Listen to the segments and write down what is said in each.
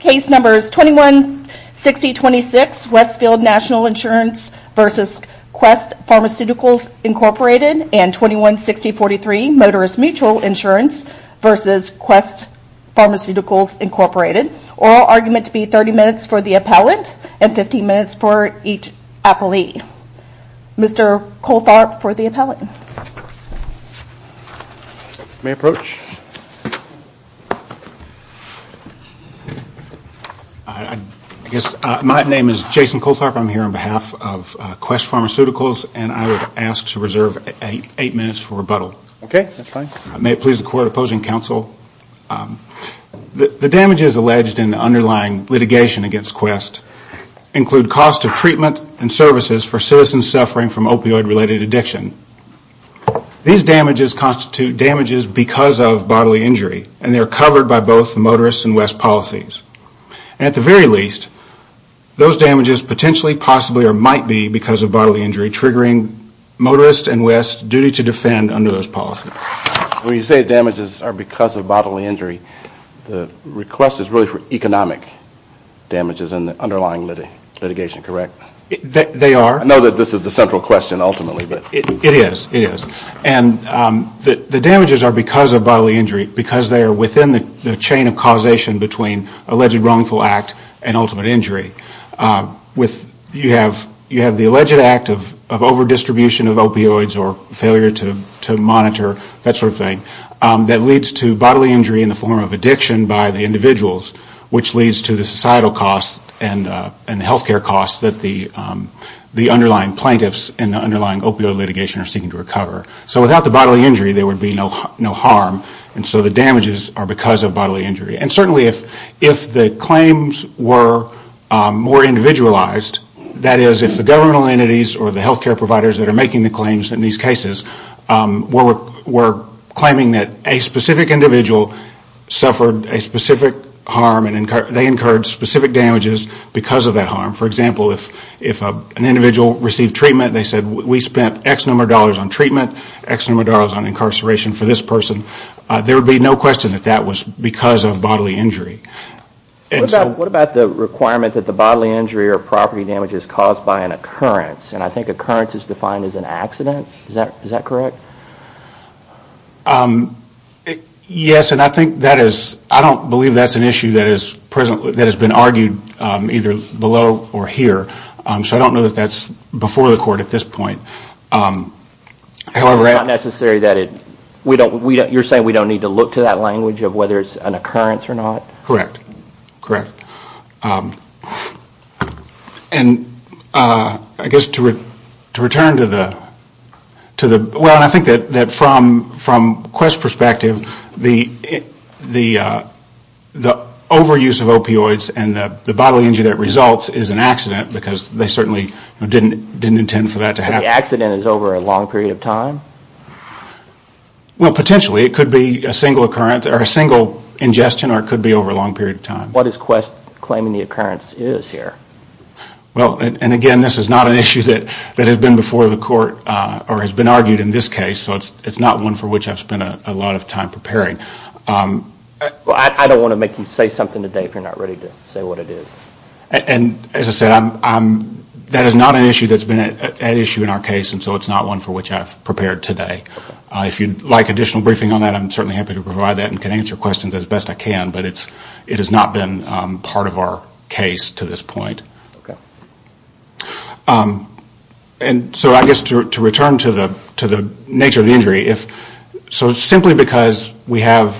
216026 Westfield National Insurance vs. Quest Pharmaceuticals, Inc. and 216043 Motorist Mutual Insurance vs. Quest Pharmaceuticals, Inc. Oral argument to be 30 minutes for the appellant and 15 minutes for each appellee. Mr. Coltharp for the appellant. May I approach? My name is Jason Coltharp. I'm here on behalf of Quest Pharmaceuticals. I would ask to reserve eight minutes for rebuttal. The damages alleged in the underlying litigation against Quest include cost of treatment and services for citizens suffering from opioid-related addiction. These damages constitute damages because of bodily injury and they are covered by both the Motorist and Quest policies. At the very least, those damages potentially, possibly, or might be because of bodily injury triggering Motorist and Quest's duty to defend under those policies. When you say damages are because of bodily injury, the request is really for economic damages in the underlying litigation, correct? They are. The damages are because of bodily injury because they are within the chain of causation between alleged wrongful act and ultimate injury. You have the alleged act of overdistribution of opioids or failure to monitor, that sort of thing, that leads to bodily injury in the form of addiction by the individuals, which leads to the societal costs and healthcare costs that the underlying plaintiffs incur. Without the bodily injury, there would be no harm. The damages are because of bodily injury. Certainly, if the claims were more individualized, that is, if the governmental entities or the healthcare providers that are making the claims in these cases were claiming that a specific individual suffered a specific harm and they incurred specific damages because of that harm. For example, if an individual received treatment, they said we spent X number of dollars on treatment, X number of dollars on incarceration for this person, there would be no question that that was because of bodily injury. What about the requirement that the bodily injury or property damage is caused by an occurrence? I think occurrence is defined as an accident, is that correct? Yes, and I think that is, I don't believe that is an issue that has been argued either below or here. I don't know if that is before the court at this point. You are saying we don't need to look to that language of whether it is an occurrence or not? Correct. I guess to return to the, well, I think that from Quest's perspective, the overuse of opioids and the bodily injury that results is an accident because they certainly didn't intend for that to happen. So the accident is over a long period of time? Well, potentially, it could be a single ingestion or it could be over a long period of time. What is Quest claiming the occurrence is here? Well, and again, this is not an issue that has been before the court or has been argued in this case, so it is not one for which I have spent a lot of time preparing. Well, I don't want to make you say something today if you are not ready to say what it is. And as I said, that is not an issue that has been at issue in our case, so it is not one for which I have prepared today. If you would like additional briefing on that, I am certainly happy to provide that and can answer questions as best I can, but it has not been part of our case to this point. Okay. And so I guess to return to the nature of the injury, so simply because we have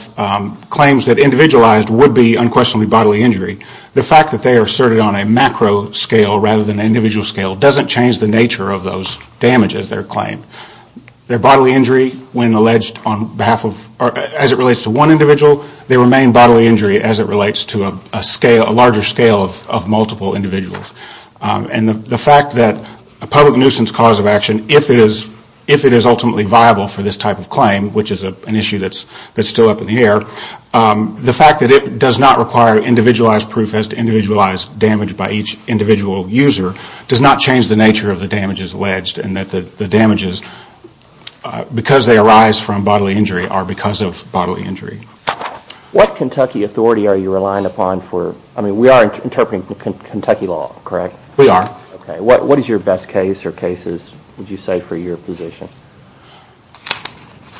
claims that individualized would be unquestionably bodily injury, the fact that they are asserted on a macro scale rather than an individual scale doesn't change the nature of those damages, their claim. Their bodily injury, as it relates to one individual, they remain bodily injury as it relates to a larger scale of multiple individuals. And the fact that a public nuisance cause of action, if it is ultimately viable for this type of claim, which is an issue that is still up in the air, the fact that it does not require individualized proof as to individualized damage by each individual user does not change the nature of the damages alleged and that the damages, because they arise from bodily injury are because of bodily injury. What Kentucky authority are you relying upon for, I mean we are interpreting Kentucky law, correct? We are. What is your best case or cases would you say for your position?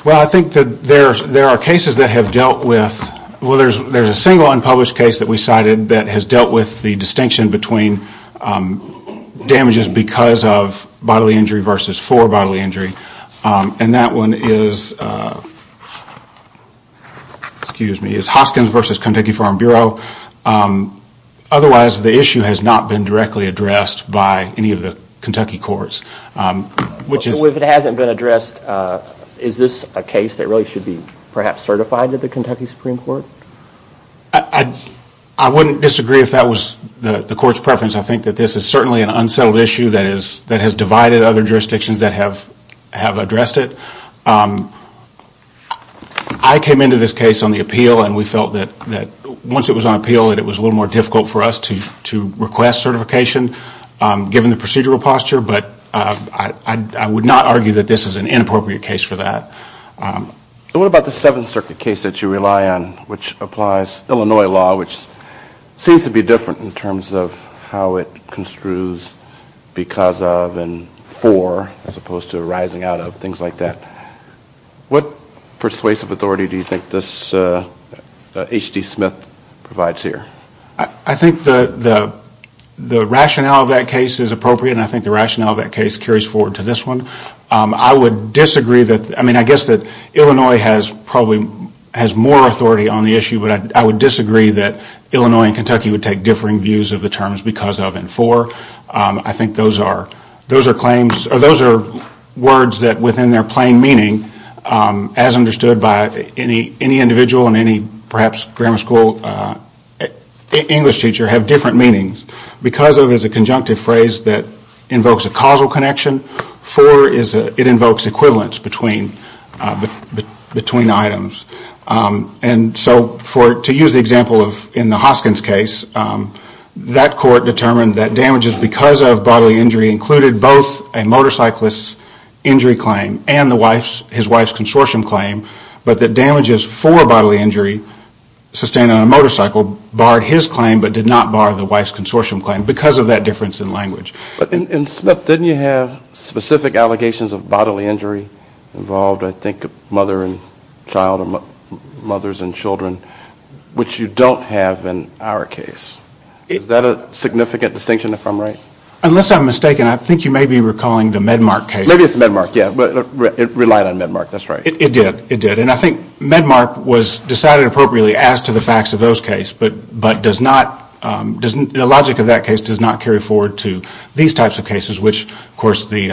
Well, I think that there are cases that have dealt with, well there is a single unpublished case that we cited that has dealt with the distinction between damages because of bodily injury versus for bodily injury. And that one is, excuse me, is Hoskins versus Kentucky Farm Bureau. Otherwise the issue has not been directly addressed by any of the Kentucky courts. If it hasn't been addressed, is this a case that really should be perhaps certified to the Kentucky Supreme Court? I wouldn't disagree if that was the court's preference. I think that this is certainly an unsettled issue that has divided other jurisdictions that have addressed it. I came into this case on the appeal and we felt that once it was on appeal, that it was a little more difficult for us to request certification, given the procedural posture, but I would not argue that this is an inappropriate case for that. What about the Seventh Circuit case that you rely on, which applies Illinois law, which seems to be different in terms of how it construes because of and for as opposed to arising out of, things like that. What persuasive authority do you think this H.D. Smith provides here? I think the rationale of that case is appropriate and I think the rationale of that case carries forward to this one. I guess that Illinois has more authority on the issue, but I would disagree that Illinois and Kentucky would take differing views of the terms because of and for. I think those are words that within their plain meaning, as understood by any individual and perhaps any grammar school English teacher, have different meanings. Because of is a conjunctive phrase that invokes a causal connection, for it invokes equivalence between items. To use the example in the Hoskins case, that court determined that damages because of bodily injury included both a motorcyclist's injury claim and his wife's consortium claim, but that damages for bodily injury sustained on a motorcycle barred his claim but did not bar the wife's consortium claim, because of that difference in language. But didn't you have specific allegations of bodily injury involved, I think, mother and child or mothers and children, which you don't have in our case? Is that a significant distinction, if I'm right? Unless I'm mistaken, I think you may be recalling the Medmark case. It did, and I think Medmark was decided appropriately as to the facts of those cases, but the logic of that case does not carry forward to these types of cases, which, of course, the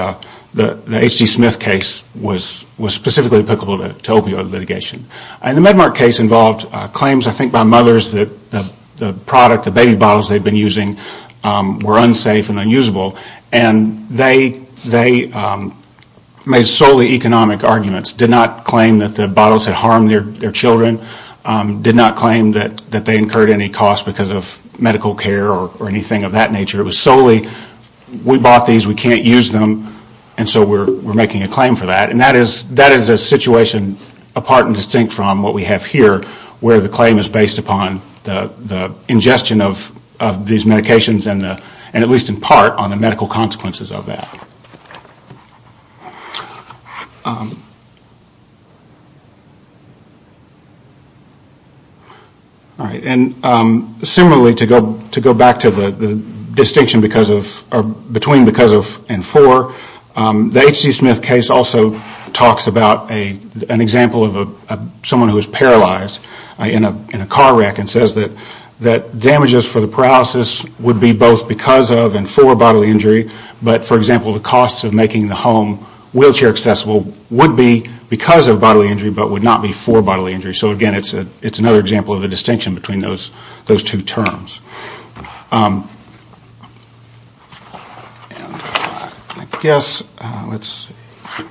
H.G. Smith case was specifically applicable to opioid litigation. And the Medmark case involved claims, I think, by mothers that the product, the baby bottles they had been using, were unsafe and unusable. And they made solely economic arguments, did not claim that the bottles had harmed their children, did not claim that they incurred any cost because of medical care or anything of that nature. It was solely, we bought these, we can't use them, and so we're making a claim for that. And that is a situation apart and distinct from what we have here, where the claim is based upon the ingestion of these medications and at least in part on the medical consequences of that. And similarly, to go back to the distinction between because of and for, the H.G. Smith case also talks about an example of someone who is paralyzed in a car wreck and says that damages for the paralysis would be both because of and for bodily injury, but for example, the costs of making the home wheelchair accessible would be because of bodily injury but would not be for bodily injury. So again, it's another example of a distinction between those two terms. And I guess, let's see.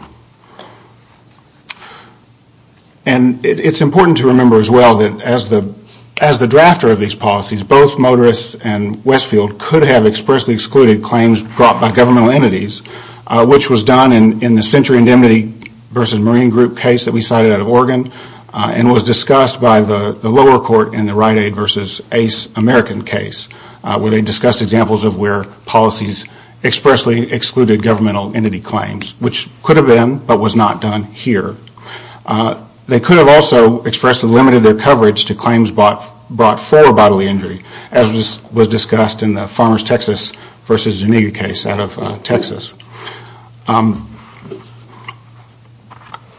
And it's important to remember as well that as the drafter of these policies, both Motorists and Westfield could have expressly excluded claims brought by governmental entities, which was done in the Century Indemnity versus Marine Group case that we cited out of Oregon, and was discussed by the lower court in the Rite Aid versus ACE American case, where they discussed examples of where policies expressly excluded governmental entity claims, which could have been, but was not done here. They could have also expressly limited their coverage to claims brought for bodily injury, as was discussed in the Farmers Texas versus Geneva case out of Texas.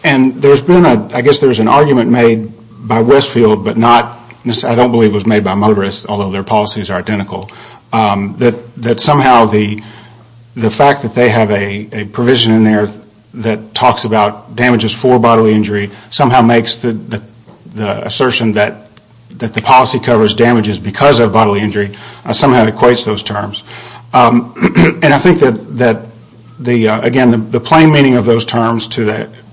And there's been, I guess there's an argument made by Westfield, but not, I don't believe it was made by Motorists, although their policies are identical, that somehow the fact that they have a provision in there that talks about damages for bodily injury somehow makes the assertion that the policy covers damages because of bodily injury somehow equates those terms. And I think that, again, the plain meaning of those terms to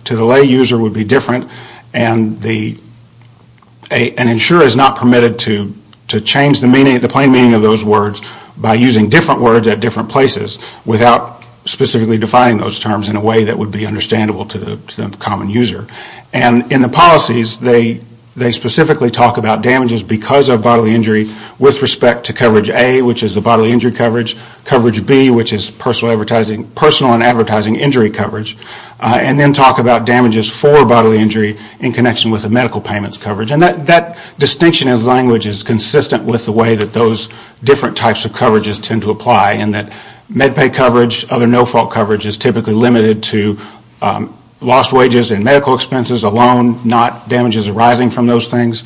the lay user would be different, and an insurer is not permitted to change the plain meaning of those words by using different words at different places without specifically defining those terms in a way that would be understandable to the common user. And in the policies, they specifically talk about damages because of bodily injury with respect to coverage A, which is the bodily injury coverage, coverage B, which is personal and advertising injury coverage, and then talk about damages for bodily injury in connection with the medical payments coverage. And that distinction of language is consistent with the way that those different types of coverages tend to apply, in that med pay coverage, other no-fault coverage is typically limited to lost wages and medical expenses alone, not damages arising from those things,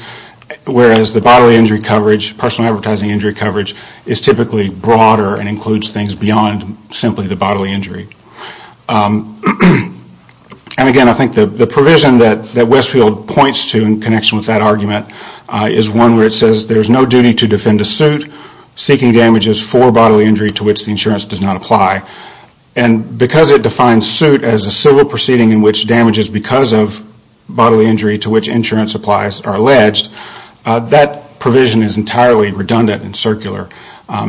whereas the bodily injury coverage, personal and advertising injury coverage is typically broader and includes things beyond simply the bodily injury. And again, I think the provision that Westfield points to in connection with that argument is one where it says there is no duty to defend a suit seeking damages for bodily injury to which the insurance does not apply. And because it defines suit as a civil proceeding in which damages because of bodily injury to which insurance applies are alleged, that provision is entirely redundant and circular,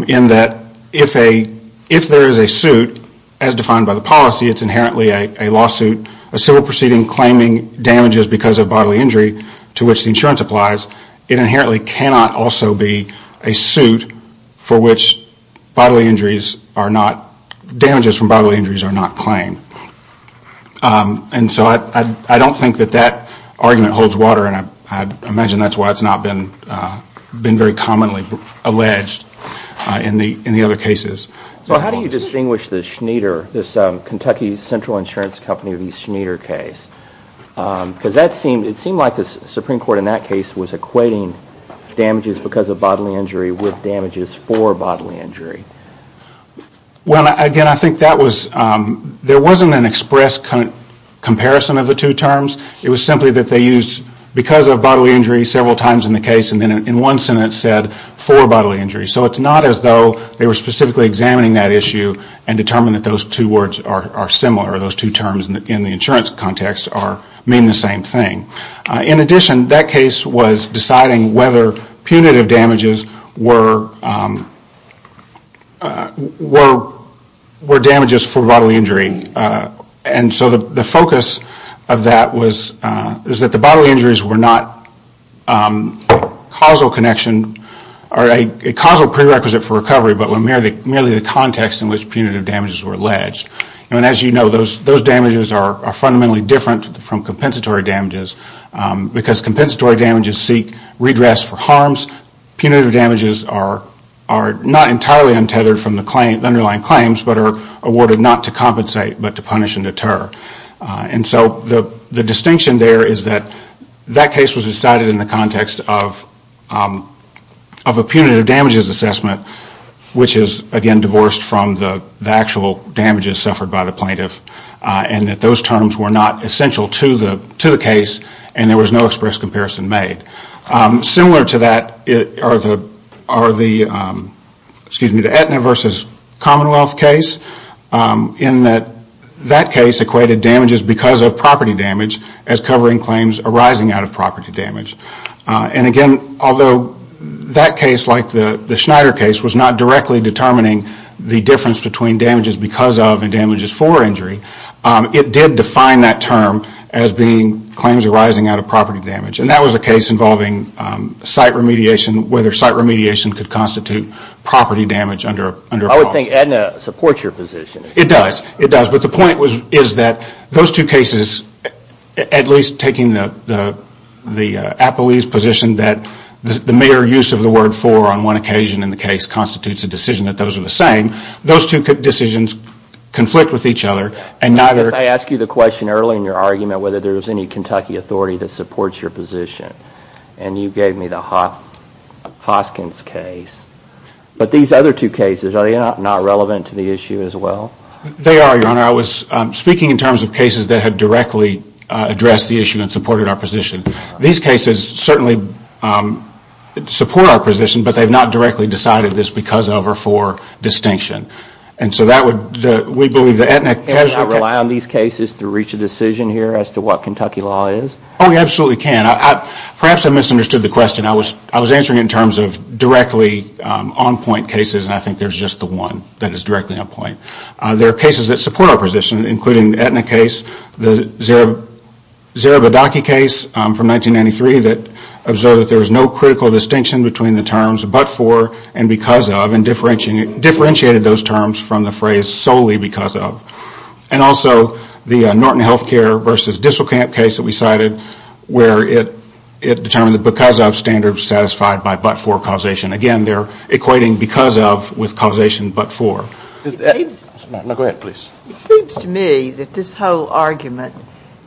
in that if there is a suit, as defined by the policy, it is inherently a lawsuit, a civil proceeding claiming damages because of bodily injury to which the insurance applies. It inherently cannot also be a suit for which bodily injuries are not, damages from bodily injuries are not claimed. And so I don't think that that argument holds water, and I imagine that's why it's not been very commonly alleged in the other cases. So how do you distinguish the Schneider, this Kentucky Central Insurance Company of East Schneider case? Because it seemed like the Supreme Court in that case was equating damages because of bodily injury with damages for bodily injury. Well, again, I think that was, there wasn't an express comparison of the two terms. It was simply that they used because of bodily injury several times in the case, and then in one sentence said for bodily injury. So it's not as though they were specifically examining that issue and determined that those two words are similar, or those two terms in the insurance context mean the same thing. In addition, that case was deciding whether punitive damages were damages for bodily injury. And so the focus of that was that the bodily injuries were not, were not a causal connection, or a causal prerequisite for recovery, but were merely the context in which punitive damages were alleged. And as you know, those damages are fundamentally different from compensatory damages, because compensatory damages seek redress for harms. Punitive damages are not entirely untethered from the underlying claims, but are awarded not to compensate, but to punish and deter. And so the distinction there is that that case was decided in the context of a punitive damages assessment, which is, again, divorced from the actual damages suffered by the plaintiff, and that those terms were not essential to the case, and there was no express comparison made. Similar to that are the, excuse me, the Aetna v. Commonwealth case, in that that case equated damages because of property damage as covering claims arising out of property damage. And again, although that case, like the Schneider case, was not directly determining the difference between damages because of and damages for injury, it did define that term as being claims arising out of property damage. And that was a case involving site remediation, whether site remediation could constitute property damage under a policy. I would think Aetna supports your position. It does, it does, but the point is that those two cases, at least taking the Appelese position that the mere use of the word for on one occasion in the case constitutes a decision that those are the same, those two decisions conflict with each other. I asked you the question earlier in your argument whether there is any Kentucky authority that supports your position. And you gave me the Hoskins case. But these other two cases, are they not relevant to the issue as well? They are, Your Honor. I was speaking in terms of cases that had directly addressed the issue and supported our position. These cases certainly support our position, but they have not directly decided this because of or for distinction. And so that would, we believe that Aetna... Can we not rely on these cases to reach a decision here as to what Kentucky law is? Oh, we absolutely can. Perhaps I misunderstood the question. I was answering it in terms of directly on point cases, and I think there is just the one that is directly on point. There are cases that support our position, including the Aetna case, the Zerabadaki case from 1993 that observed that there is no critical distinction between the terms but for and because of and differentiated those terms from the phrase solely because of. And also the Norton Healthcare versus Disselkamp case that we cited where it determined that because of standards satisfied by but for causation. Again, they are equating because of with causation but for. It seems to me that this whole argument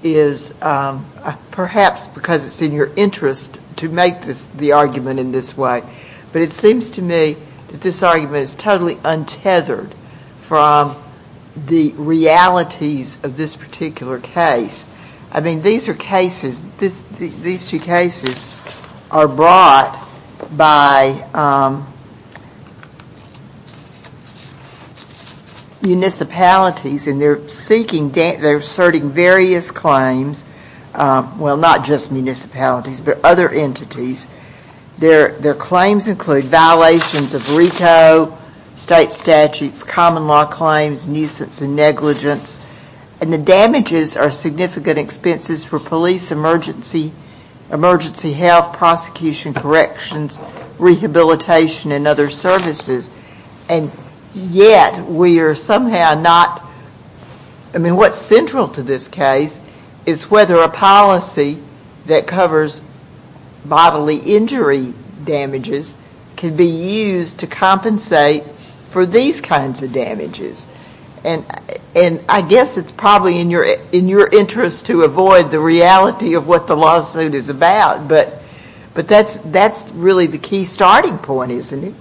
is perhaps because it is in your interest to make the argument in this way, but it seems to me that this argument is totally untethered from the realities of this particular case. I mean, these are cases, these two cases are brought by... municipalities and they are seeking, they are asserting various claims. Well, not just municipalities but other entities. Their claims include violations of RETO, state statutes, common law claims, nuisance and negligence, and the damages are significant expenses for police, emergency health, prosecution, corrections, rehabilitation and other services. And yet we are somehow not... I mean, what's central to this case is whether a policy that covers bodily injury damages can be used to compensate for these kinds of damages. And I guess it's probably in your interest to avoid the reality of what the lawsuit is about, but that's really the key starting point, isn't it?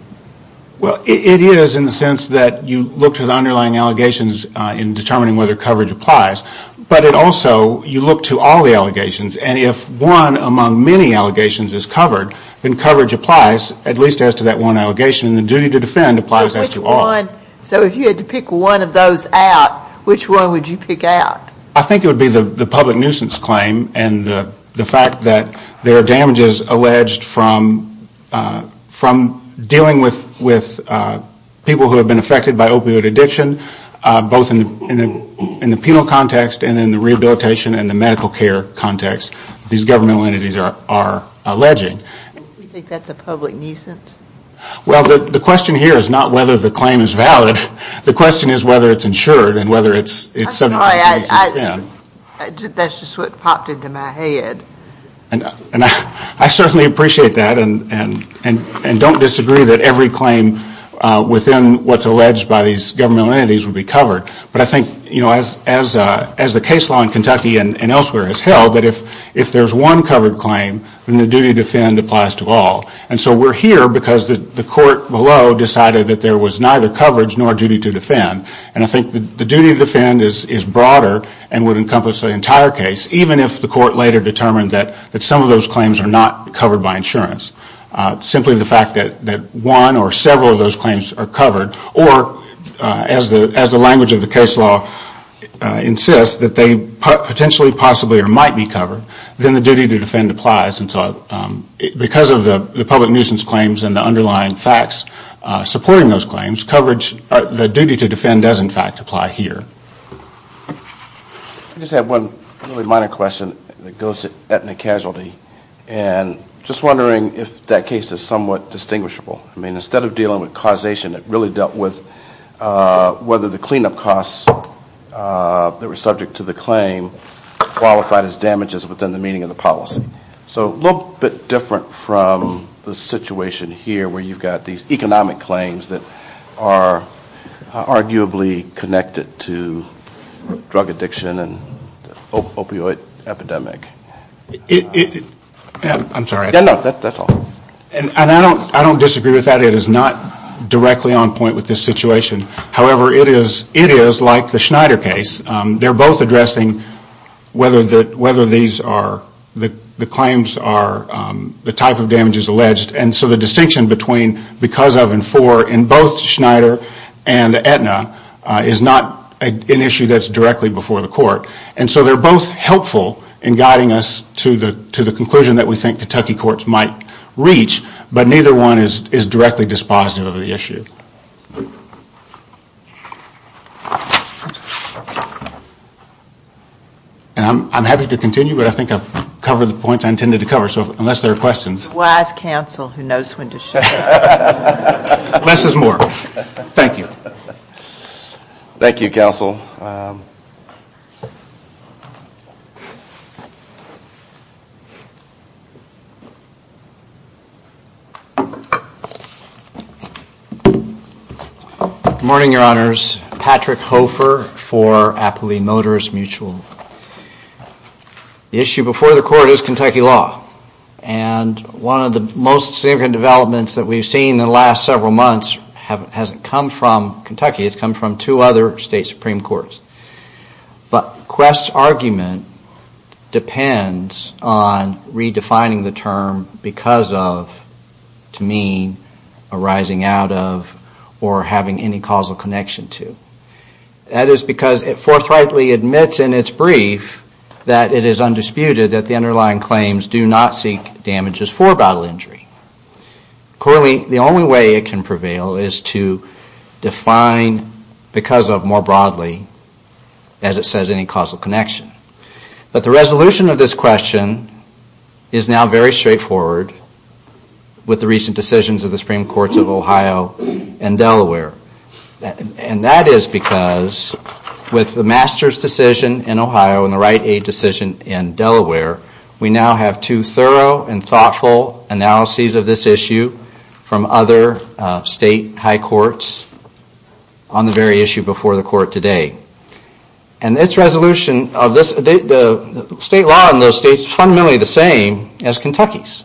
Well, it is in the sense that you look to the underlying allegations in determining whether coverage applies, but it also, you look to all the allegations and if one among many allegations is covered, then coverage applies at least as to that one allegation and the duty to defend applies as to all. So if you had to pick one of those out, which one would you pick out? I think it would be the public nuisance claim and the fact that there are damages alleged from dealing with people who have been affected by opioid addiction, both in the penal context and in the rehabilitation and the medical care context that these governmental entities are alleging. You think that's a public nuisance? Well, the question here is not whether the claim is valid, the question is whether it's insured and whether it's something that needs to be defended. I'm sorry, that's just what popped into my head. I certainly appreciate that and don't disagree that every claim within what's alleged by these governmental entities would be covered, but I think as the case law in Kentucky and elsewhere has held, that if there's one covered claim, then the duty to defend applies to all. And so we're here because the court below decided that there was neither coverage nor duty to defend and I think the duty to defend is broader and would encompass the entire case, even if the court later determined that some of those claims are not covered by insurance. Simply the fact that one or several of those claims are covered, or as the language of the case law insists, that they potentially, possibly or might be covered, then the duty to defend applies. Because of the public nuisance claims and the underlying facts supporting those claims, the duty to defend does in fact apply here. I just have one really minor question that goes to ethnic casualty. And just wondering if that case is somewhat distinguishable. Instead of dealing with causation, it really dealt with whether the cleanup costs that were subject to the claim qualified as damages within the meaning of the policy. So a little bit different from the situation here where you've got these economic claims that are arguably connected to drug addiction and opioid epidemic. I'm sorry. I don't disagree with that. It is not directly on point with this situation. However, it is like the Schneider case. They are both addressing whether the claims are the type of damages alleged. And so the distinction between because of and for in both Schneider and Aetna is not an issue that is directly before the court. And so they are both helpful in guiding us to the conclusion that we think Kentucky courts might reach. But neither one is directly dispositive of the issue. Thank you. And I'm happy to continue, but I think I've covered the points I intended to cover. So unless there are questions. Less is more. Thank you. Good morning, Your Honors. The issue before the court is Kentucky law. And one of the most significant developments that we've seen in the last several months hasn't come from Kentucky. It's come from two other state Supreme Courts. But Quest's argument depends on redefining the term because of, to me, arising out of, or having any causal connection to. That is because it forthrightly admits in its brief that it is undisputed that the underlying claims do not seek damages for bodily injury. Currently, the only way it can prevail is to define because of more broadly, as it says, any causal connection. But the resolution of this question is now very straightforward with the recent decisions of the Supreme Court. The Supreme Court of Ohio and Delaware. And that is because with the Masters decision in Ohio and the Right Aid decision in Delaware, we now have two thorough and thoughtful analyses of this issue from other state high courts on the very issue before the court today. And its resolution, the state law in those states is fundamentally the same as Kentucky's.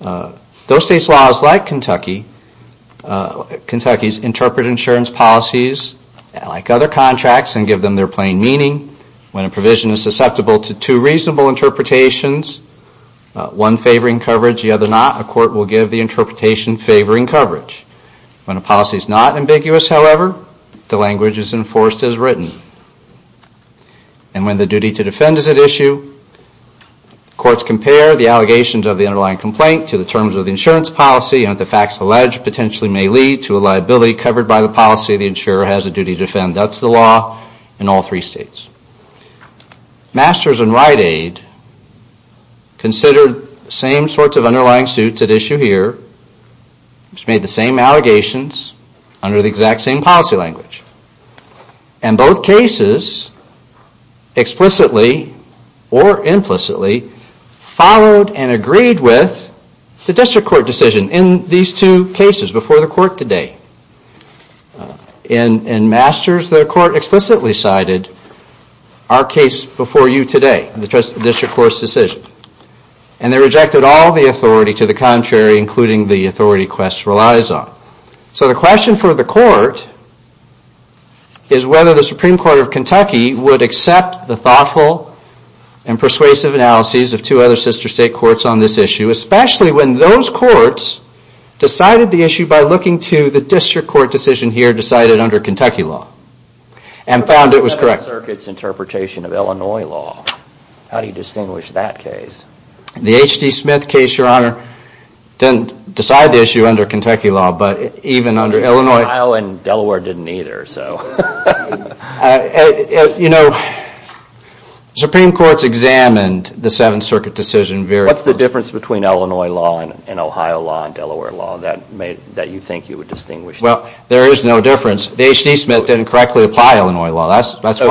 Those states' laws, like Kentucky's, interpret insurance policies like other contracts and give them their plain meaning. When a provision is susceptible to two reasonable interpretations, one favoring coverage, the other not, a court will give the interpretation favoring coverage. When a policy is not ambiguous, however, the language is enforced as written. And when the duty to defend is at issue, courts compare the allegations of the underlying complaint to the terms of the insurance policy and what the facts allege potentially may lead to a liability covered by the policy the insurer has a duty to defend. That's the law in all three states. Masters and Right Aid considered the same sorts of underlying suits at issue here, which made the same allegations under the exact same policy language. And both cases explicitly or implicitly followed and agreed with the district court decision in these two cases before the court today. In Masters, the court explicitly cited our case before you today, the district court's decision. And they rejected all the authority to the contrary, including the authority Quest relies on. So the question for the court is whether the Supreme Court of Kentucky would accept the thoughtful and persuasive analyses of two other sister state courts on this issue, especially when those courts decided the issue by looking to the district court decision here decided under Kentucky law. And found it was correct. The 7th Circuit's interpretation of Illinois law, how do you distinguish that case? The H.D. Smith case, Your Honor, didn't decide the issue under Kentucky law, but even under Illinois. Ohio and Delaware didn't either. You know, Supreme Court's examined the 7th Circuit decision. What's the difference between Illinois law and Ohio law and Delaware law that you think you would distinguish? Well, there is no difference. The H.D. Smith didn't correctly apply Illinois law. I think the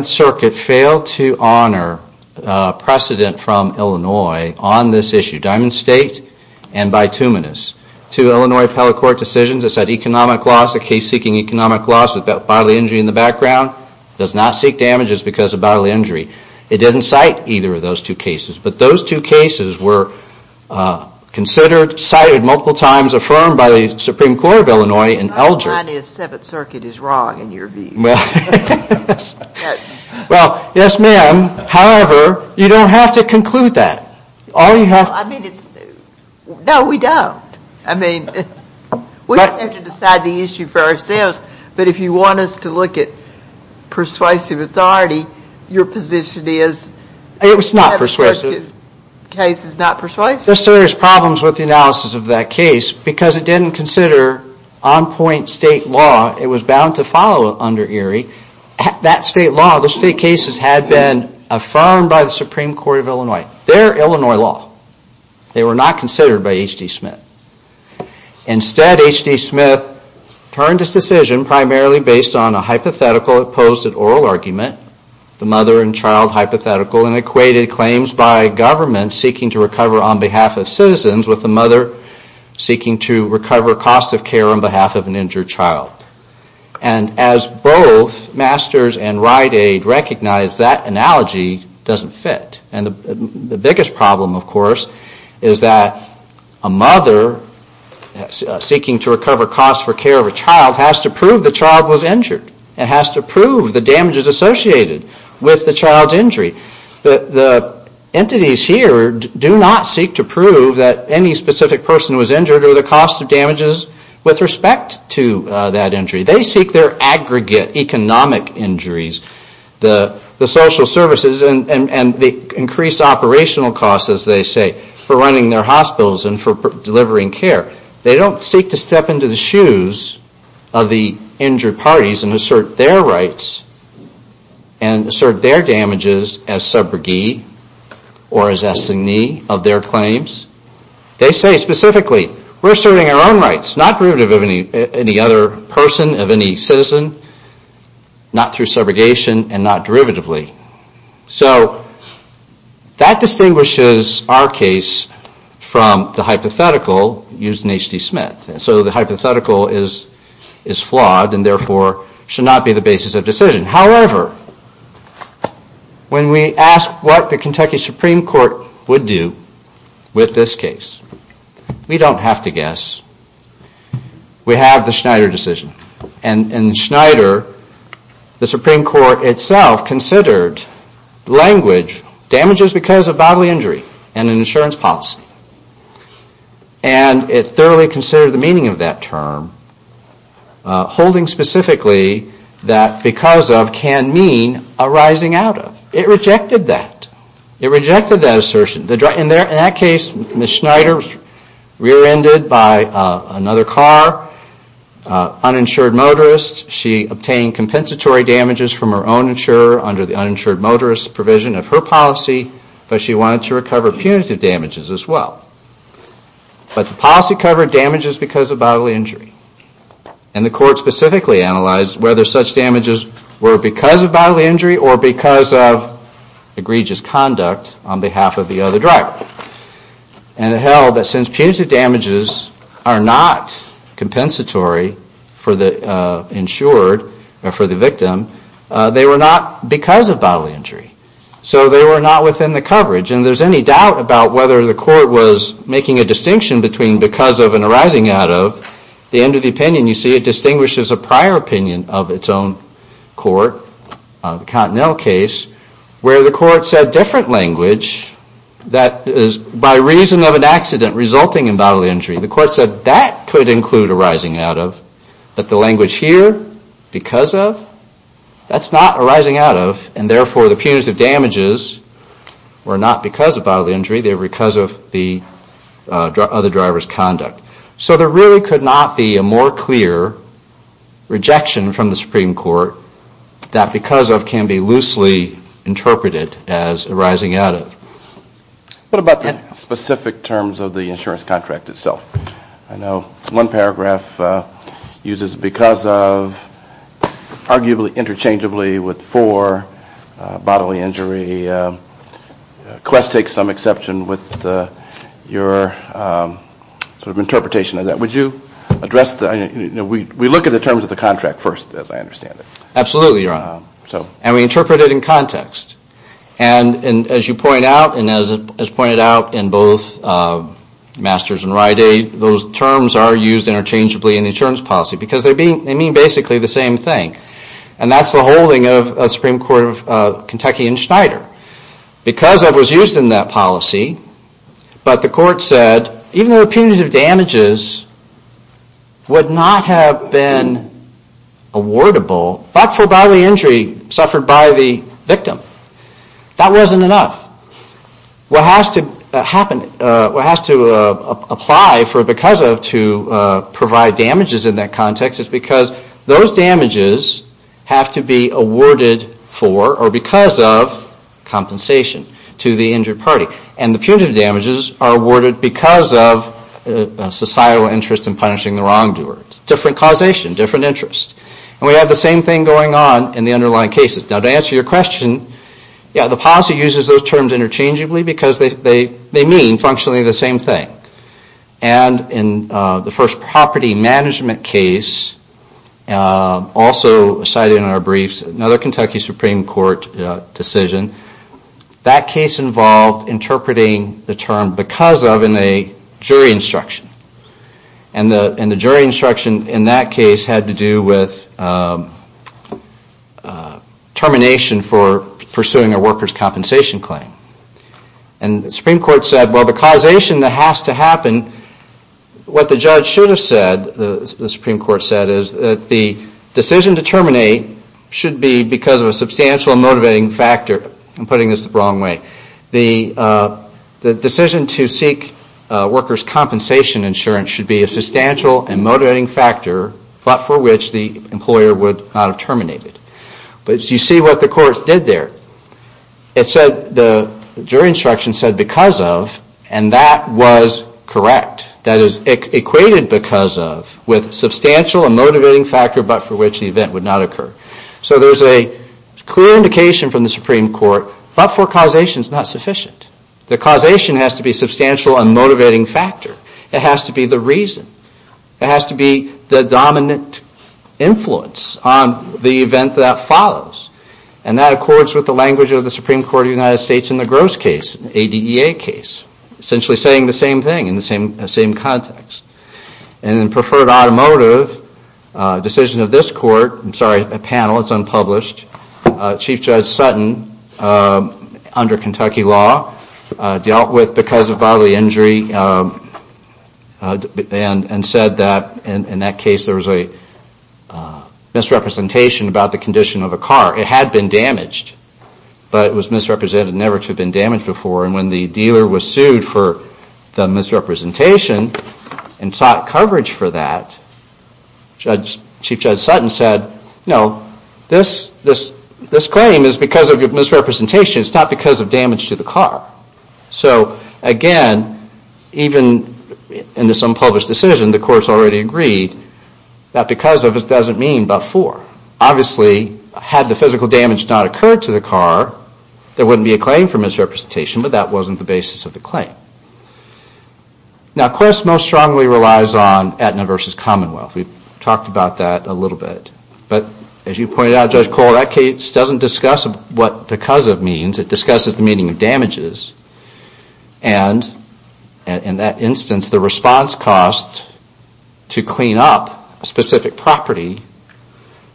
7th Circuit failed to honor precedent from Illinois on this issue. Diamond State and Bituminous, two Illinois appellate court decisions that said economic loss, a case seeking economic loss with bodily injury in the background does not seek damages because of bodily injury. It didn't cite either of those two cases. But those two cases were considered, cited multiple times, affirmed by the Supreme Court of Illinois in Elgin. Well, mine is 7th Circuit is wrong in your view. Well, yes ma'am. However, you don't have to conclude that. No, we don't. I mean, we just have to decide the issue for ourselves. But if you want us to look at persuasive authority, your position is... It was not persuasive. There are serious problems with the analysis of that case because it didn't consider on point state law. It was bound to follow under Erie. That state law, those state cases had been affirmed by the Supreme Court of Illinois. They're Illinois law. They were not considered by H.D. Smith. Instead, H.D. Smith turned his decision primarily based on a hypothetical opposed at oral argument, the mother and child hypothetical and equated claims by government seeking to recover on behalf of citizens with the mother seeking to recover cost of care on behalf of an injured child. And as both Masters and Rite Aid recognize, that analogy doesn't fit. And the biggest problem, of course, is that a mother seeking to recover cost for care of a child has to prove the child was injured and has to prove the damages associated with the child's injury. The entities here do not seek to prove that any specific person was injured or the cost of damages with respect to that injury. They seek their aggregate economic injuries, the social services and the increased operational costs, as they say, for running their hospitals and for delivering care. They don't seek to step into the shoes of the injured parties and assert their rights and assert their damages as subrogate or as assignee of their claims. They say specifically, we're asserting our own rights, not derivative of any other person, of any citizen, not through subrogation and not derivatively. So that distinguishes our case from the hypothetical used in H.D. Smith. So the hypothetical is flawed and therefore should not be the basis of decision. However, when we ask what the Kentucky Supreme Court would do with this case, we don't have to guess. We have the Schneider decision. And in Schneider, the Supreme Court itself considered language damages because of bodily injury and an insurance policy. And it thoroughly considered the meaning of that term, holding specifically that because of bodily injury, of can mean arising out of. It rejected that. It rejected that assertion. In that case, Ms. Schneider was rear-ended by another car, uninsured motorist. She obtained compensatory damages from her own insurer under the uninsured motorist provision of her policy, but she wanted to recover punitive damages as well. But the policy covered damages because of bodily injury. And the court specifically analyzed whether such damages were because of bodily injury or because of egregious conduct on behalf of the other driver. And it held that since punitive damages are not compensatory for the insured or for the victim, they were not because of bodily injury. So they were not within the coverage. And there's any doubt about whether the court was making a distinction between because of and arising out of. At the end of the opinion, you see it distinguishes a prior opinion of its own court, the Continell case, where the court said different language that is by reason of an accident resulting in bodily injury. The court said that could include arising out of, but the language here, because of, that's not arising out of, and therefore the punitive damages were not because of bodily injury. They were because of the other driver's conduct. So there really could not be a more clear rejection from the Supreme Court that because of can be loosely interpreted as arising out of. What about the specific terms of the insurance contract itself? I know one paragraph uses because of, arguably interchangeably with for bodily injury. Quest takes some exception with your interpretation of that. Would you address that? We look at the terms of the contract first, as I understand it. Absolutely, Your Honor. And we interpret it in context. And as you point out, and as pointed out in both Masters and Ryday, those terms are used interchangeably in the insurance policy. Because they mean basically the same thing. And that's the holding of the Supreme Court of Kentucky and Schneider. Because of was used in that policy. But the court said even though punitive damages would not have been awardable, but for bodily injury suffered by the victim. That wasn't enough. What has to happen, what has to apply for because of to provide damages in that context is because those damages have to be awarded for or because of compensation to the injured party. And the punitive damages are awarded because of societal interest in punishing the wrongdoers. Different causation, different interest. And we have the same thing going on in the underlying cases. Now to answer your question, the policy uses those terms interchangeably because they mean functionally the same thing. And in the first property management case, also cited in our briefs, another Kentucky Supreme Court decision, that case involved interpreting the term because of in a jury instruction. And the jury instruction in that case had to do with termination for pursuing a worker's compensation claim. And the Supreme Court said, well the causation that has to happen, what the judge should have said, the Supreme Court said, is that the decision to terminate should be because of a substantial motivating factor. I'm putting this the wrong way. The decision to seek worker's compensation insurance should be a substantial and motivating factor but for which the employer would not have terminated. But you see what the courts did there. The jury instruction said because of and that was correct. That is equated because of with substantial and motivating factor but for which the event would not occur. So there is a clear indication from the Supreme Court but for causation is not sufficient. The causation has to be substantial and motivating factor. It has to be the reason. It has to be the dominant influence on the event that follows. And that accords with the language of the Supreme Court of the United States in the Gross case, ADEA case, essentially saying the same thing in the same context. And in preferred automotive, decision of this court, I'm sorry, a panel, it's unpublished. Chief Judge Sutton, under Kentucky law, dealt with because of bodily injury and said that in that case there was a misrepresentation about the condition of a car. It had been damaged but it was misrepresented never to have been damaged before. And when the dealer was sued for the misrepresentation and sought coverage for that, Chief Judge Sutton said, no, this claim is because of your misrepresentation. It's not because of damage to the car. So again, even in this unpublished decision, the courts already agreed that because of it doesn't mean before. Obviously, had the physical damage not occurred to the car, there wouldn't be a claim for misrepresentation, but that wasn't the basis of the claim. Now, courts most strongly relies on Aetna versus Commonwealth. We've talked about that a little bit. But as you pointed out, Judge Cole, that case doesn't discuss what because of means. It discusses the meaning of damages. And in that instance, the response cost to clean up a specific property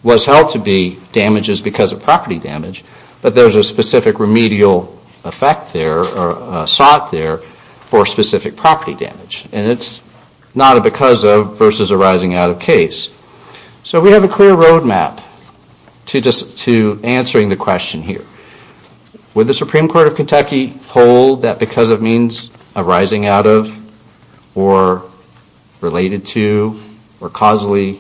was held to be damages because of property damage, but there's a specific remedial effect there or sought there for specific property damage. And it's not a because of versus arising out of case. So we have a clear roadmap to answering the question here. Would the Supreme Court of Kentucky hold that because of means arising out of or related to or causally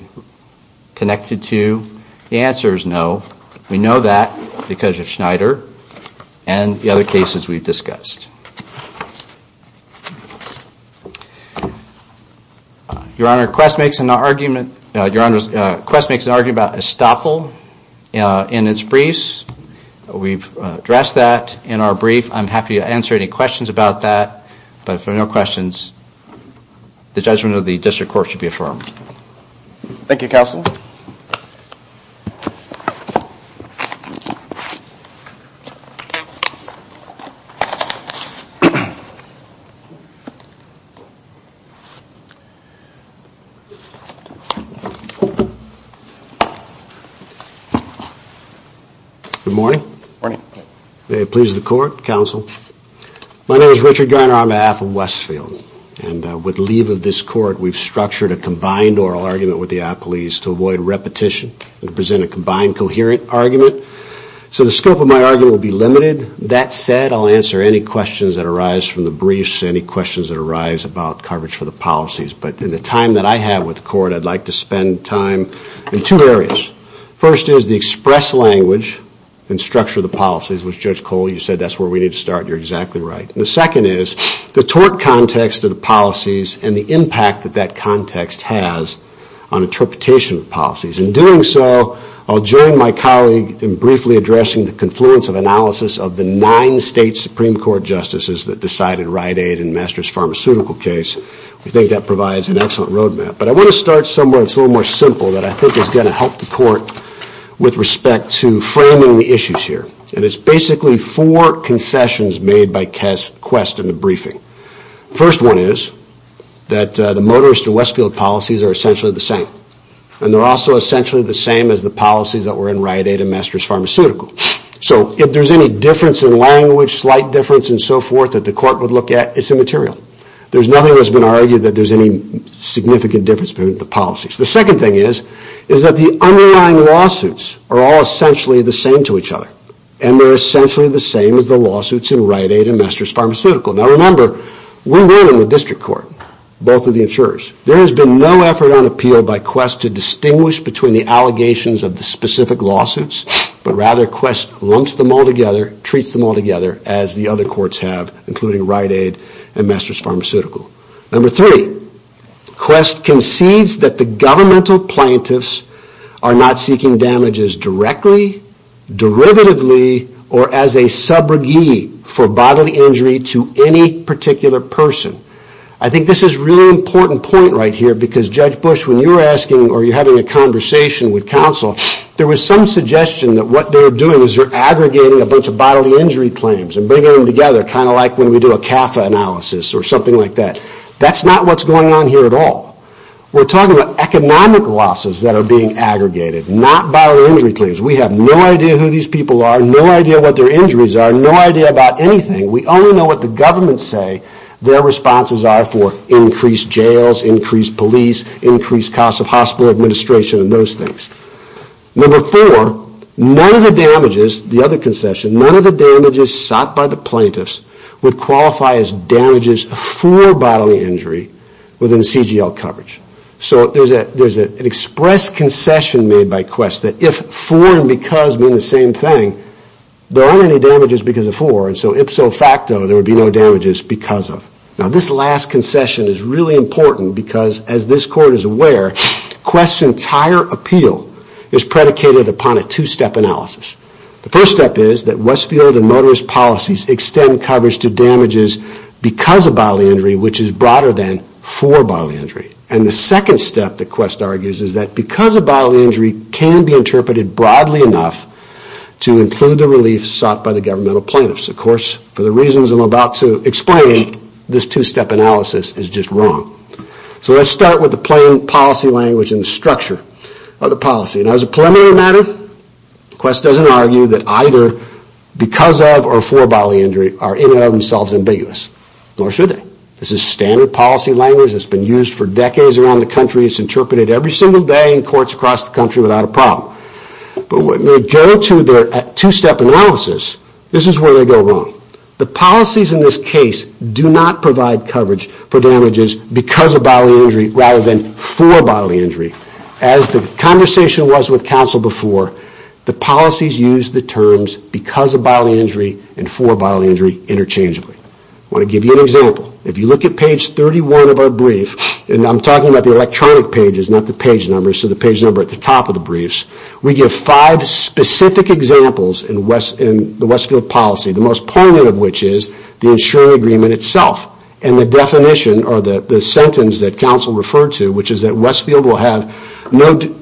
connected to? The answer is no. We know that because of Schneider and the other cases we've discussed. Your Honor, Quest makes an argument about estoppel in its briefs. We've addressed that in our brief. I'm happy to answer any questions about that. But if there are no questions, the judgment of the District Court should be affirmed. Thank you, Counsel. Good morning. Good morning. May it please the Court, Counsel. My name is Richard Garner on behalf of Westfield. And with leave of this Court, we've structured a combined oral argument with the apologies to avoid repetition and present a combined coherent argument. So the scope of my argument will be limited. That said, I'll answer any questions that arise from the briefs, any questions that arise about coverage for the policies. But in the time that I have with the Court, I'd like to spend time in two areas. First is the express language and structure of the policies, which, Judge Cole, you said that's where we need to start. You're exactly right. And the second is the tort context of the policies and the impact that that context has on interpretation of the policies. In doing so, I'll join my colleague in briefly addressing the confluence of analysis of the nine state Supreme Court justices that decided Rite Aid and Masters Pharmaceutical case. We think that provides an excellent roadmap. But I want to start somewhere that's a little more simple that I think is going to help the Court with respect to framing the issues here. And it's basically four concessions made by Quest in the briefing. First one is that the Motorist and Westfield policies are essentially the same. And they're also essentially the same as the policies that were in Rite Aid and Masters Pharmaceutical. So if there's any difference in language, slight difference and so forth that the Court would look at, it's immaterial. There's nothing that's been argued that there's any significant difference between the policies. The second thing is that the underlying lawsuits are all essentially the same to each other. And they're essentially the same as the lawsuits in Rite Aid and Masters Pharmaceutical. Now remember, we ran in the district court, both of the insurers. There has been no effort on appeal by Quest to distinguish between the allegations of the specific lawsuits. But rather Quest lumps them all together, treats them all together as the other courts have, including Rite Aid and Masters Pharmaceutical. Number three, Quest concedes that the governmental plaintiffs are not seeking damages directly, derivatively or as a subrogee for bodily injury to any particular person. I think this is a really important point right here, because Judge Bush, when you were asking or having a conversation with counsel, there was some suggestion that what they're doing is they're aggregating a bunch of bodily injury claims and bringing them together, kind of like when we do a CAFA analysis or something like that. That's not what's going on here at all. We're talking about economic losses that are being aggregated, not bodily injury claims. We have no idea who these people are, no idea what their injuries are, no idea about anything. We only know what the governments say their responses are for increased jails, increased police, increased cost of hospital administration and those things. Number four, none of the damages, the other concession, none of the damages sought by the plaintiffs would qualify as damages for bodily injury within CGL companies. So there's an express concession made by Quest that if for and because mean the same thing, there aren't any damages because of for, and so ipso facto there would be no damages because of. Now this last concession is really important because, as this Court is aware, Quest's entire appeal is predicated upon a two-step analysis. The first step is that Westfield and motorist policies extend coverage to damages because of bodily injury, which is broader than for bodily injury. And the second step that Quest argues is that because of bodily injury can be interpreted broadly enough to include the relief sought by the governmental plaintiffs. Of course, for the reasons I'm about to explain, this two-step analysis is just wrong. So let's start with the plain policy language and the structure of the policy. Now as a preliminary matter, Quest doesn't argue that either because of or for bodily injury are in and of themselves ambiguous, nor should they. This is standard policy language that's been used for decades around the country. It's interpreted every single day in courts across the country without a problem. But when we go to their two-step analysis, this is where they go wrong. The policies in this case do not provide coverage for damages because of bodily injury rather than for bodily injury. As the conversation was with counsel before, the policies use the terms because of bodily injury and for bodily injury interchangeably. I want to give you an example. If you look at page 31 of our brief, and I'm talking about the electronic pages, not the page numbers, so the page number at the top of the briefs, we give five specific examples in the Westfield policy, the most poignant of which is the insuring agreement itself. And the definition or the sentence that counsel referred to, which is that Westfield will have no duty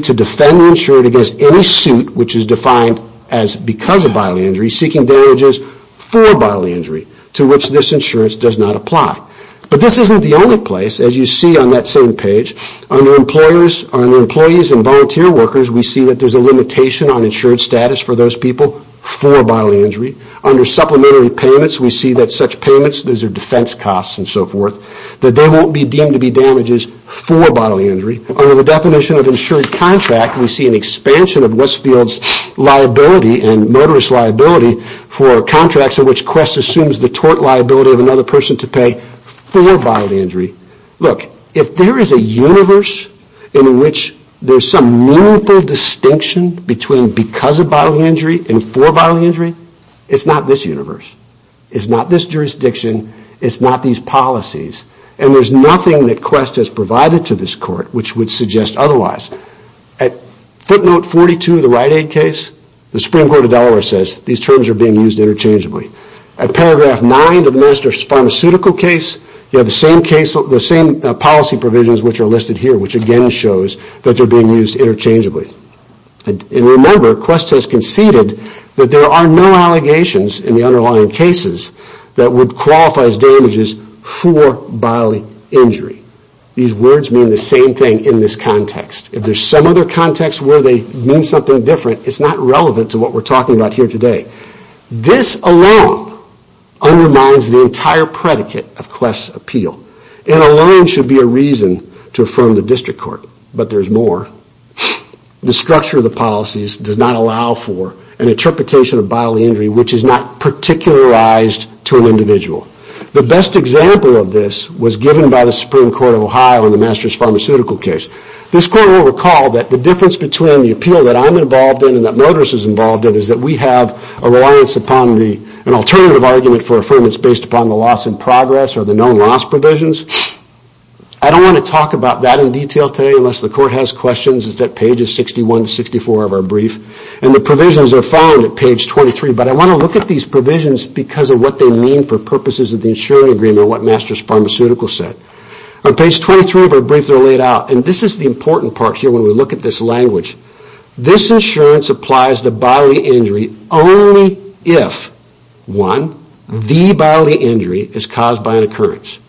to defend the insured against any suit, which is defined as because of bodily injury, seeking damages for bodily injury, to which this insurance does not apply. But this isn't the only place, as you see on that same page. Under employees and volunteer workers, we see that there's a limitation on insured status for those people for bodily injury. Under supplementary payments, we see that such payments, those are defense costs and so forth, that they won't be deemed to be damages for bodily injury. Under the definition of insured contract, we see an expansion of Westfield's liability and motorist liability for contracts in which Quest assumes the tort liability of another person to pay for bodily injury. Look, if there is a universe in which there's some meaningful distinction between because of bodily injury and for bodily injury, it's not this universe. It's not this jurisdiction. It's not these policies. And there's nothing that Quest has provided to this court which would suggest otherwise. At footnote 42 of the Rite Aid case, the Supreme Court of Delaware says these terms are being used interchangeably. At paragraph 9 of the Minister's pharmaceutical case, you have the same policy provisions which are listed here, which again shows that they're being used interchangeably. And remember, Quest has conceded that there are no allegations in the underlying cases that would qualify as damages for bodily injury. These words mean the same thing in this context. If there's some other context where they mean something different, it's not relevant to what we're talking about here today. This alone undermines the entire predicate of Quest's appeal. It alone should be a reason to affirm the district court, but there's more. The structure of the policies does not allow for an interpretation of bodily injury which is not particularized to an individual. The best example of this was given by the Supreme Court of Ohio in the Minister's pharmaceutical case. This court will recall that the difference between the appeal that I'm involved in and that Modris is involved in is that we have a reliance upon an alternative argument for affirmance based upon the loss in progress or the known loss provisions. I don't want to talk about that in detail today unless the court has questions. It's at pages 61 to 64 of our brief, and the provisions are found at page 23. I want to look at these provisions because of what they mean for purposes of the insurance agreement and what Masters Pharmaceuticals said. On page 23 of our brief, this is the important part when we look at this language. This insurance applies to bodily injury only if 1. The bodily injury is caused by an occurrence.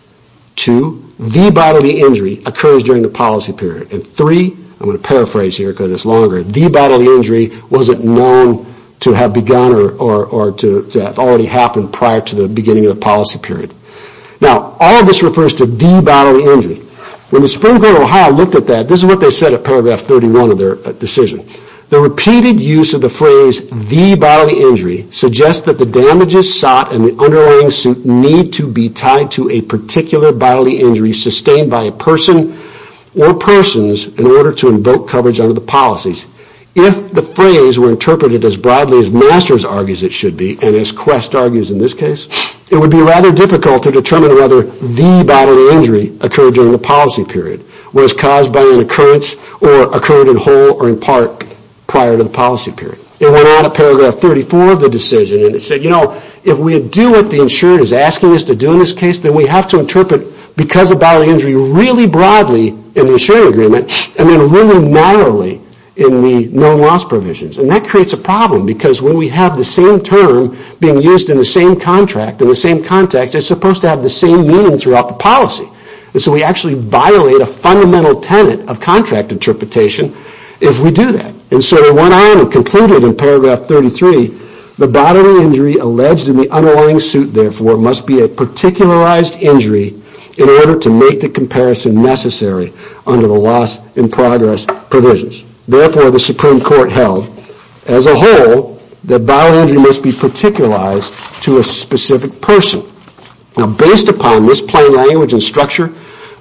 2. The bodily injury occurs during the policy period. 3. The bodily injury wasn't known to have begun or to have already happened prior to the beginning of the policy period. Now, all of this refers to the bodily injury. When the Supreme Court of Ohio looked at that, this is what they said at paragraph 31 of their decision. The repeated use of the phrase, the bodily injury, suggests that the damages sought and the underlying suit need to be tied to a particular bodily injury sustained by a person or persons in order to invoke coverage under the policies. If the phrase were interpreted as broadly as Masters argues it should be, and as Quest argues in this case, it would be rather difficult to determine whether the bodily injury occurred during the policy period was caused by an occurrence or occurred in whole or in part prior to the policy period. It went on at paragraph 34 of the decision and it said, you know, if we do what the insurer is asking us to do in this case, then we have to interpret because of bodily injury really broadly in the insurer agreement and then really narrowly in the known loss provisions. And that creates a problem because when we have the same term being used in the same contract in the same context, it's supposed to have the same meaning throughout the policy. And so we actually violate a fundamental tenet of contract interpretation if we do that. And so it went on and concluded in paragraph 33, the bodily injury alleged in the underlying suit, therefore, must be a particularized injury in order to make the comparison necessary under the loss in progress provisions. Therefore, the Supreme Court held, as a whole, that bodily injury must be particularized to a specific person. Now based upon this plain language and structure,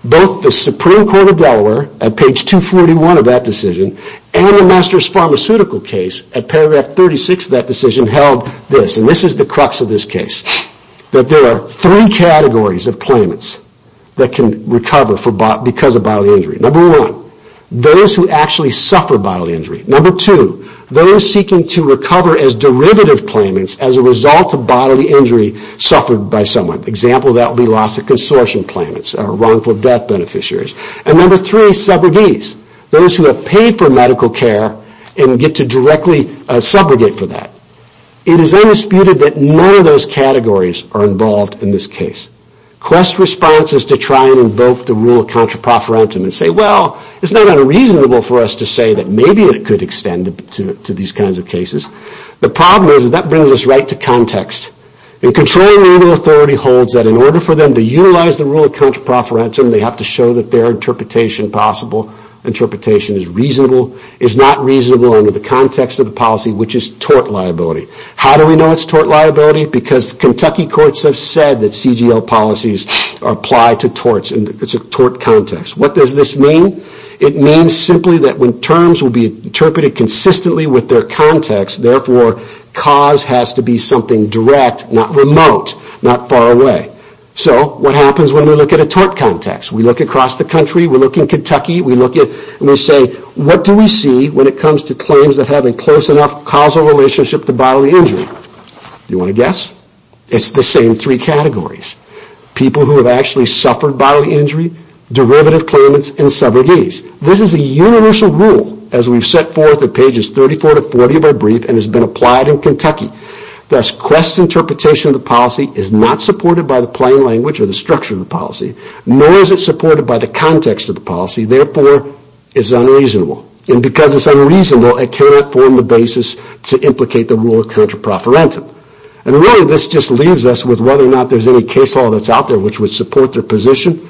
both the Supreme Court of Delaware at page 241 of that decision and the master's pharmaceutical case at paragraph 36 of that decision held this. And this is the crux of this case. That there are three categories of claimants that can recover because of bodily injury. Number one, those who actually suffer bodily injury. Number two, those seeking to recover as derivative claimants as a result of bodily injury suffered by someone. Example of that would be loss of consortium claimants or wrongful death beneficiaries. And number three, subrogates. Those who have paid for medical care and get to directly subrogate for that. It is undisputed that none of those categories are involved in this case. Quest responses to try and invoke the rule of counter-prophorentum and say, well, it is not unreasonable for us to say that maybe it could extend to these kinds of cases. The problem is that brings us right to context. And controlling legal authority holds that in order for them to utilize the rule of counter-prophorentum, they have to show that their interpretation is reasonable. It is not reasonable under the context of the policy, which is tort liability. How do we know it is tort liability? Because Kentucky courts have said that CGL policies apply to torts and it is a tort context. What does this mean? It means simply that when terms will be interpreted consistently with their context, therefore, cause has to be something direct, not remote, not far away. So what happens when we look at a tort context? We look across the country, we look in Kentucky, and we say, what do we see when it comes to claims that have a close enough causal relationship to bodily injury? You want to guess? It is the same three categories. People who have actually suffered bodily injury, derivative claimants, and subrogates. This is a universal rule as we have set forth in pages 34-40 of our brief and has been applied in Kentucky. Thus, Quest's interpretation of the policy is not supported by the plain language or the structure of the policy, nor is it supported by the context of the policy, therefore, it is unreasonable. And because it is unreasonable, it cannot form the basis to implicate the rule of counter-prophorentum. And really, this just leaves us with whether or not there is any case law that is out there which would support their position.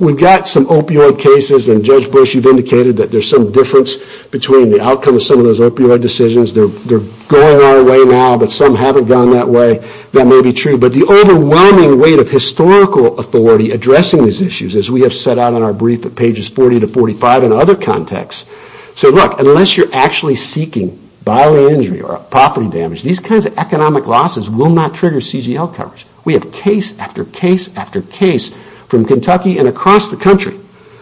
We have got some opioid cases, and Judge Bush, you have indicated that there is some difference between the outcome of some of those opioid decisions. They are going our way now, but some haven't gone that way. That may be true, but the overwhelming weight of historical authority addressing these issues, as we have set out in our brief at pages 40-45, and other contexts, unless you are actually seeking bodily injury or property damage, these kinds of economic losses will not trigger CGL coverage. We have case after case after case from Kentucky and across the country.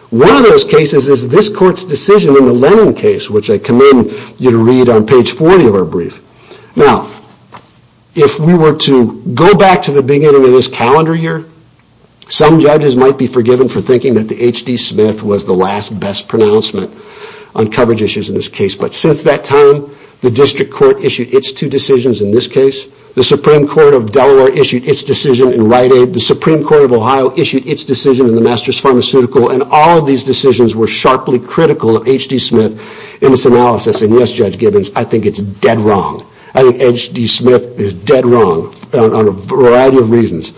One of those cases is this Court's decision in the Lennon case, which I commend you to read on page 40 of our brief. Now, if we were to go back to the beginning of this calendar year, some judges might be forgiven for thinking that the H.D. Smith was the last best pronouncement on coverage issues in this case. But since that time, the District Court issued its two decisions in this case. The Supreme Court of Delaware issued its decision in Rite Aid. The Supreme Court of Ohio issued its decision in the Masters Pharmaceutical. And all of these decisions were sharply critical of H.D. Smith in its analysis. And yes, Judge Gibbons, I think it is dead wrong. I think H.D. Smith is dead wrong on a variety of reasons.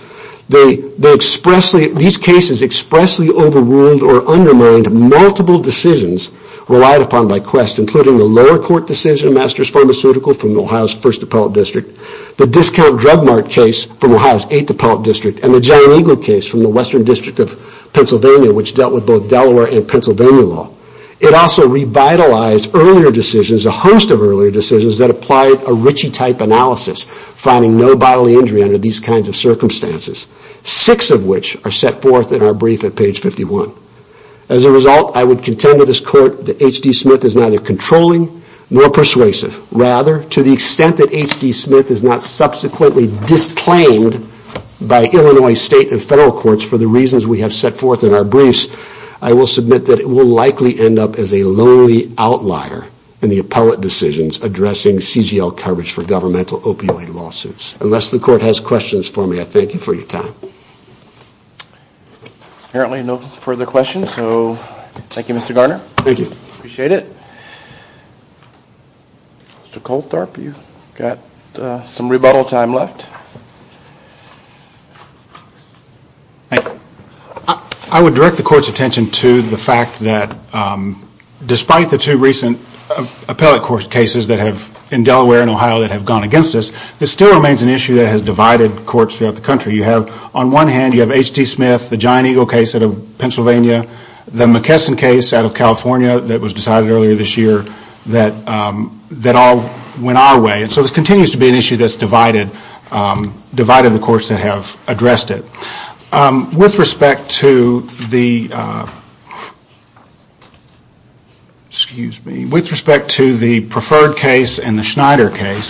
These cases expressly overruled or undermined multiple decisions relied upon by Quest, including the lower court decision in the Masters Pharmaceutical from Ohio's 1st Appellate District, the Discount Drug Mart case from Ohio's 8th Appellate District, and the Giant Eagle case from the Western District of Pennsylvania, which dealt with both Delaware and Pennsylvania law. It also revitalized a host of earlier decisions that applied a Ritchie-type analysis, finding no bodily injury under these kinds of circumstances. Six of which are set forth in our brief at page 51. As a result, I would contend to this Court that H.D. Smith is neither controlling nor persuasive. Rather, to the extent that H.D. Smith is not subsequently disclaimed by Illinois State and Federal Courts for the reasons we have set forth in our briefs, I will submit that it will likely end up as a lonely outlier in the appellate decisions addressing CGL coverage for governmental opioid lawsuits. Unless the Court has questions for me, I thank you for your time. Apparently no further questions, so thank you Mr. Garner. Thank you. Mr. Coltharp, you've got some rebuttal time left. I would direct the Court's attention to the fact that despite the two recent appellate court cases in Delaware and Ohio that have gone against us, this still remains an issue that has divided courts throughout the country. You have on one hand H.D. Smith, the Giant Eagle case out of Pennsylvania, the McKesson case out of California that was decided earlier this year that all went our way. So this continues to be an issue that has divided the courts that have addressed it. With respect to the preferred case and the Schneider case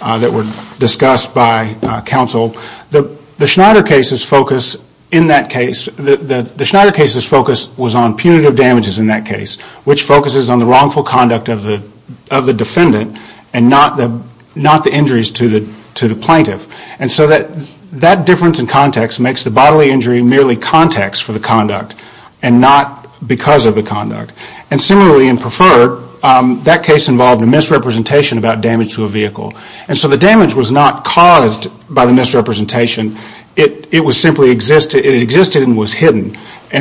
that were discussed by counsel, the Schneider case's focus in that case, the Schneider case's focus was on punitive damages in that case, which focuses on the wrongful conduct of the defendant and not the injuries to the plaintiff. That difference in context makes the bodily injury merely context for the conduct and not because of the conduct. Similarly in preferred, that case involved a misrepresentation about damage to a vehicle. So the damage was not caused by the misrepresentation, it existed and was hidden.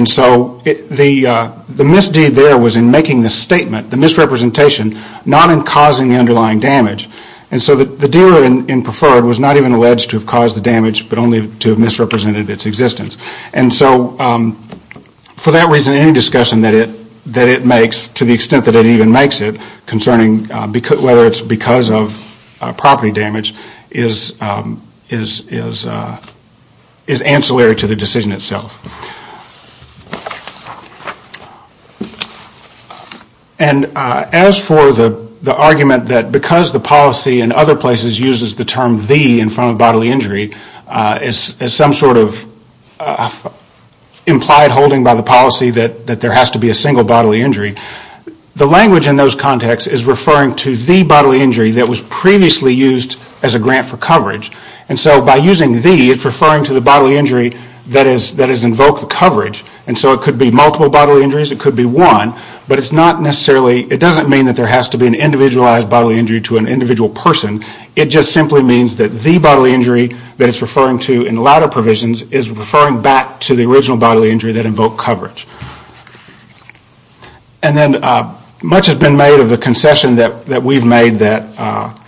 So the misdeed there was in making the statement, the misrepresentation, not in causing the underlying damage. So the dealer in preferred was not even alleged to have caused the damage, but only to have misrepresented its existence. For that reason, any discussion that it makes, to the extent that it even makes it, concerning whether it is because of property damage, is ancillary to the decision itself. And as for the argument that because the policy in other places uses the term the in front of bodily injury, as some sort of implied holding by the policy that there has to be a single bodily injury, the language in those contexts is referring to the bodily injury And so by using the, it is referring to the bodily injury that is invoked coverage. And so it could be multiple bodily injuries, it could be one, but it is not necessarily, it does not mean that there has to be an individualized bodily injury to an individual person, it just simply means that the bodily injury that it is referring to in latter provisions is referring back to the original bodily injury that invoked coverage. And then much has been made of the concession that we have made that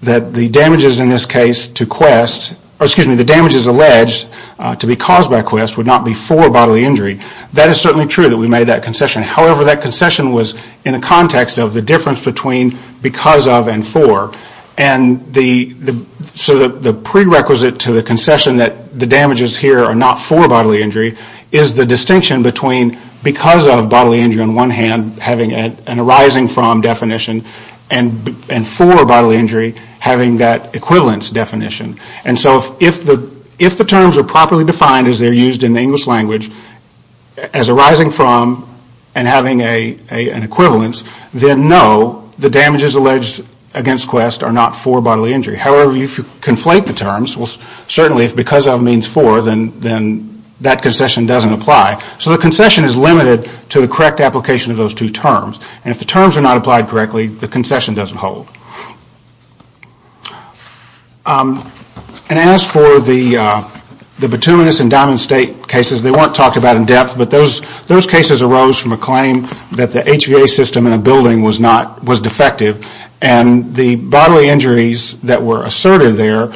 the damages in this case to Quest, or excuse me, the damages alleged to be caused by Quest would not be for bodily injury. That is certainly true that we made that concession. However, that concession was in the context of the difference between because of and for. And so the prerequisite to the concession that the bodily injury on one hand having an arising from definition and for bodily injury having that equivalence definition. And so if the terms are properly defined as they are used in the English language as arising from and having an equivalence, then no, the damages alleged against Quest are not for bodily injury. However, if you conflate the terms, well certainly if because of means for, then that concession doesn't apply. So the concession is limited to the correct application of those two terms. And if the terms are not applied correctly, the concession doesn't hold. And as for the bituminous and diamond state cases, they weren't talked about in depth, but those cases arose from a claim that the HVA system in a building was defective, and the bodily injuries that were asserted there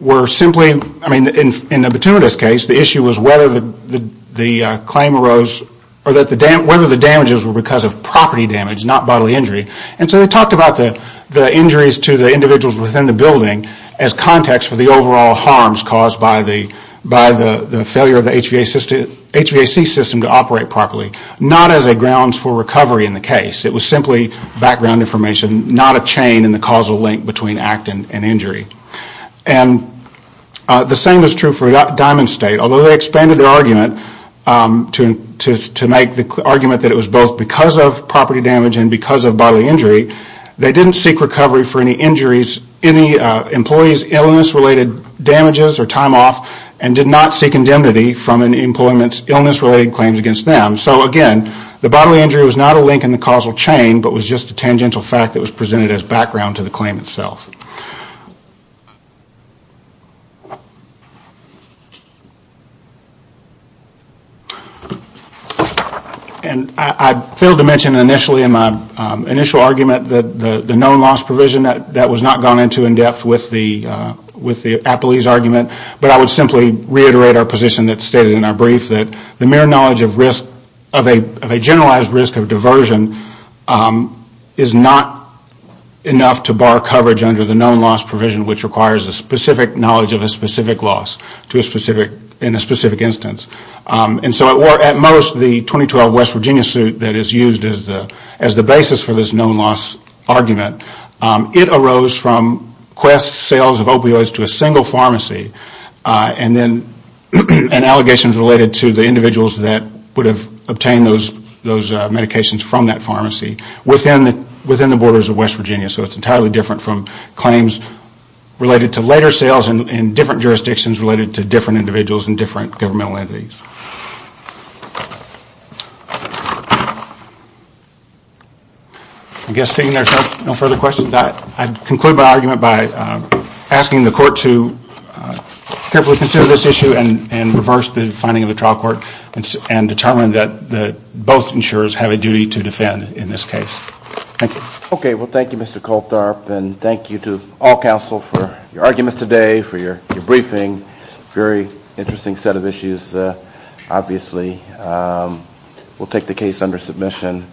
were simply, I mean in the bituminous case, the issue was whether the claim arose, or whether the damages were because of property damage, not bodily injury. And so they talked about the injuries to the individuals within the building as context for the overall harms caused by the failure of the HVAC system to operate properly, not as a grounds for recovery in the case. It was simply background information, not a chain in the causal link between act and injury. The same is true for diamond state. Although they expanded their argument to make the argument that it was both because of property damage and because of bodily injury, they didn't seek recovery for any injuries, any employees' illness-related damages or time off, and did not seek indemnity from an employment's illness-related claims against them. So again, the bodily injury was not a link in the causal chain, but was just a tangential fact that was presented as background to the claim itself. And I failed to mention initially in my initial argument that the known loss provision that was not gone into in depth with the Appley's argument, but I would simply reiterate our position that stated in our brief that the mere knowledge of a generalized risk of diversion is not enough to bar coverage under the known loss provision, which requires a specific knowledge of a specific loss in a specific instance. And so at most, the 2012 West Virginia suit that is used as the basis for this known loss argument, it arose from quest sales of opioids to a single pharmacy. And allegations related to the individuals that would have obtained those medications from that pharmacy within the borders of West Virginia. So it's entirely different from claims related to later sales in different jurisdictions related to different individuals and different governmental entities. I guess seeing there's no further questions, I'd conclude my argument by asking the court to carefully consider this issue and reverse the finding of the trial court and determine that both insurers have a duty to defend in this case. Thank you. Thank you to all counsel for your arguments today, for your briefing. Very interesting set of issues, obviously. We'll take the case under submission.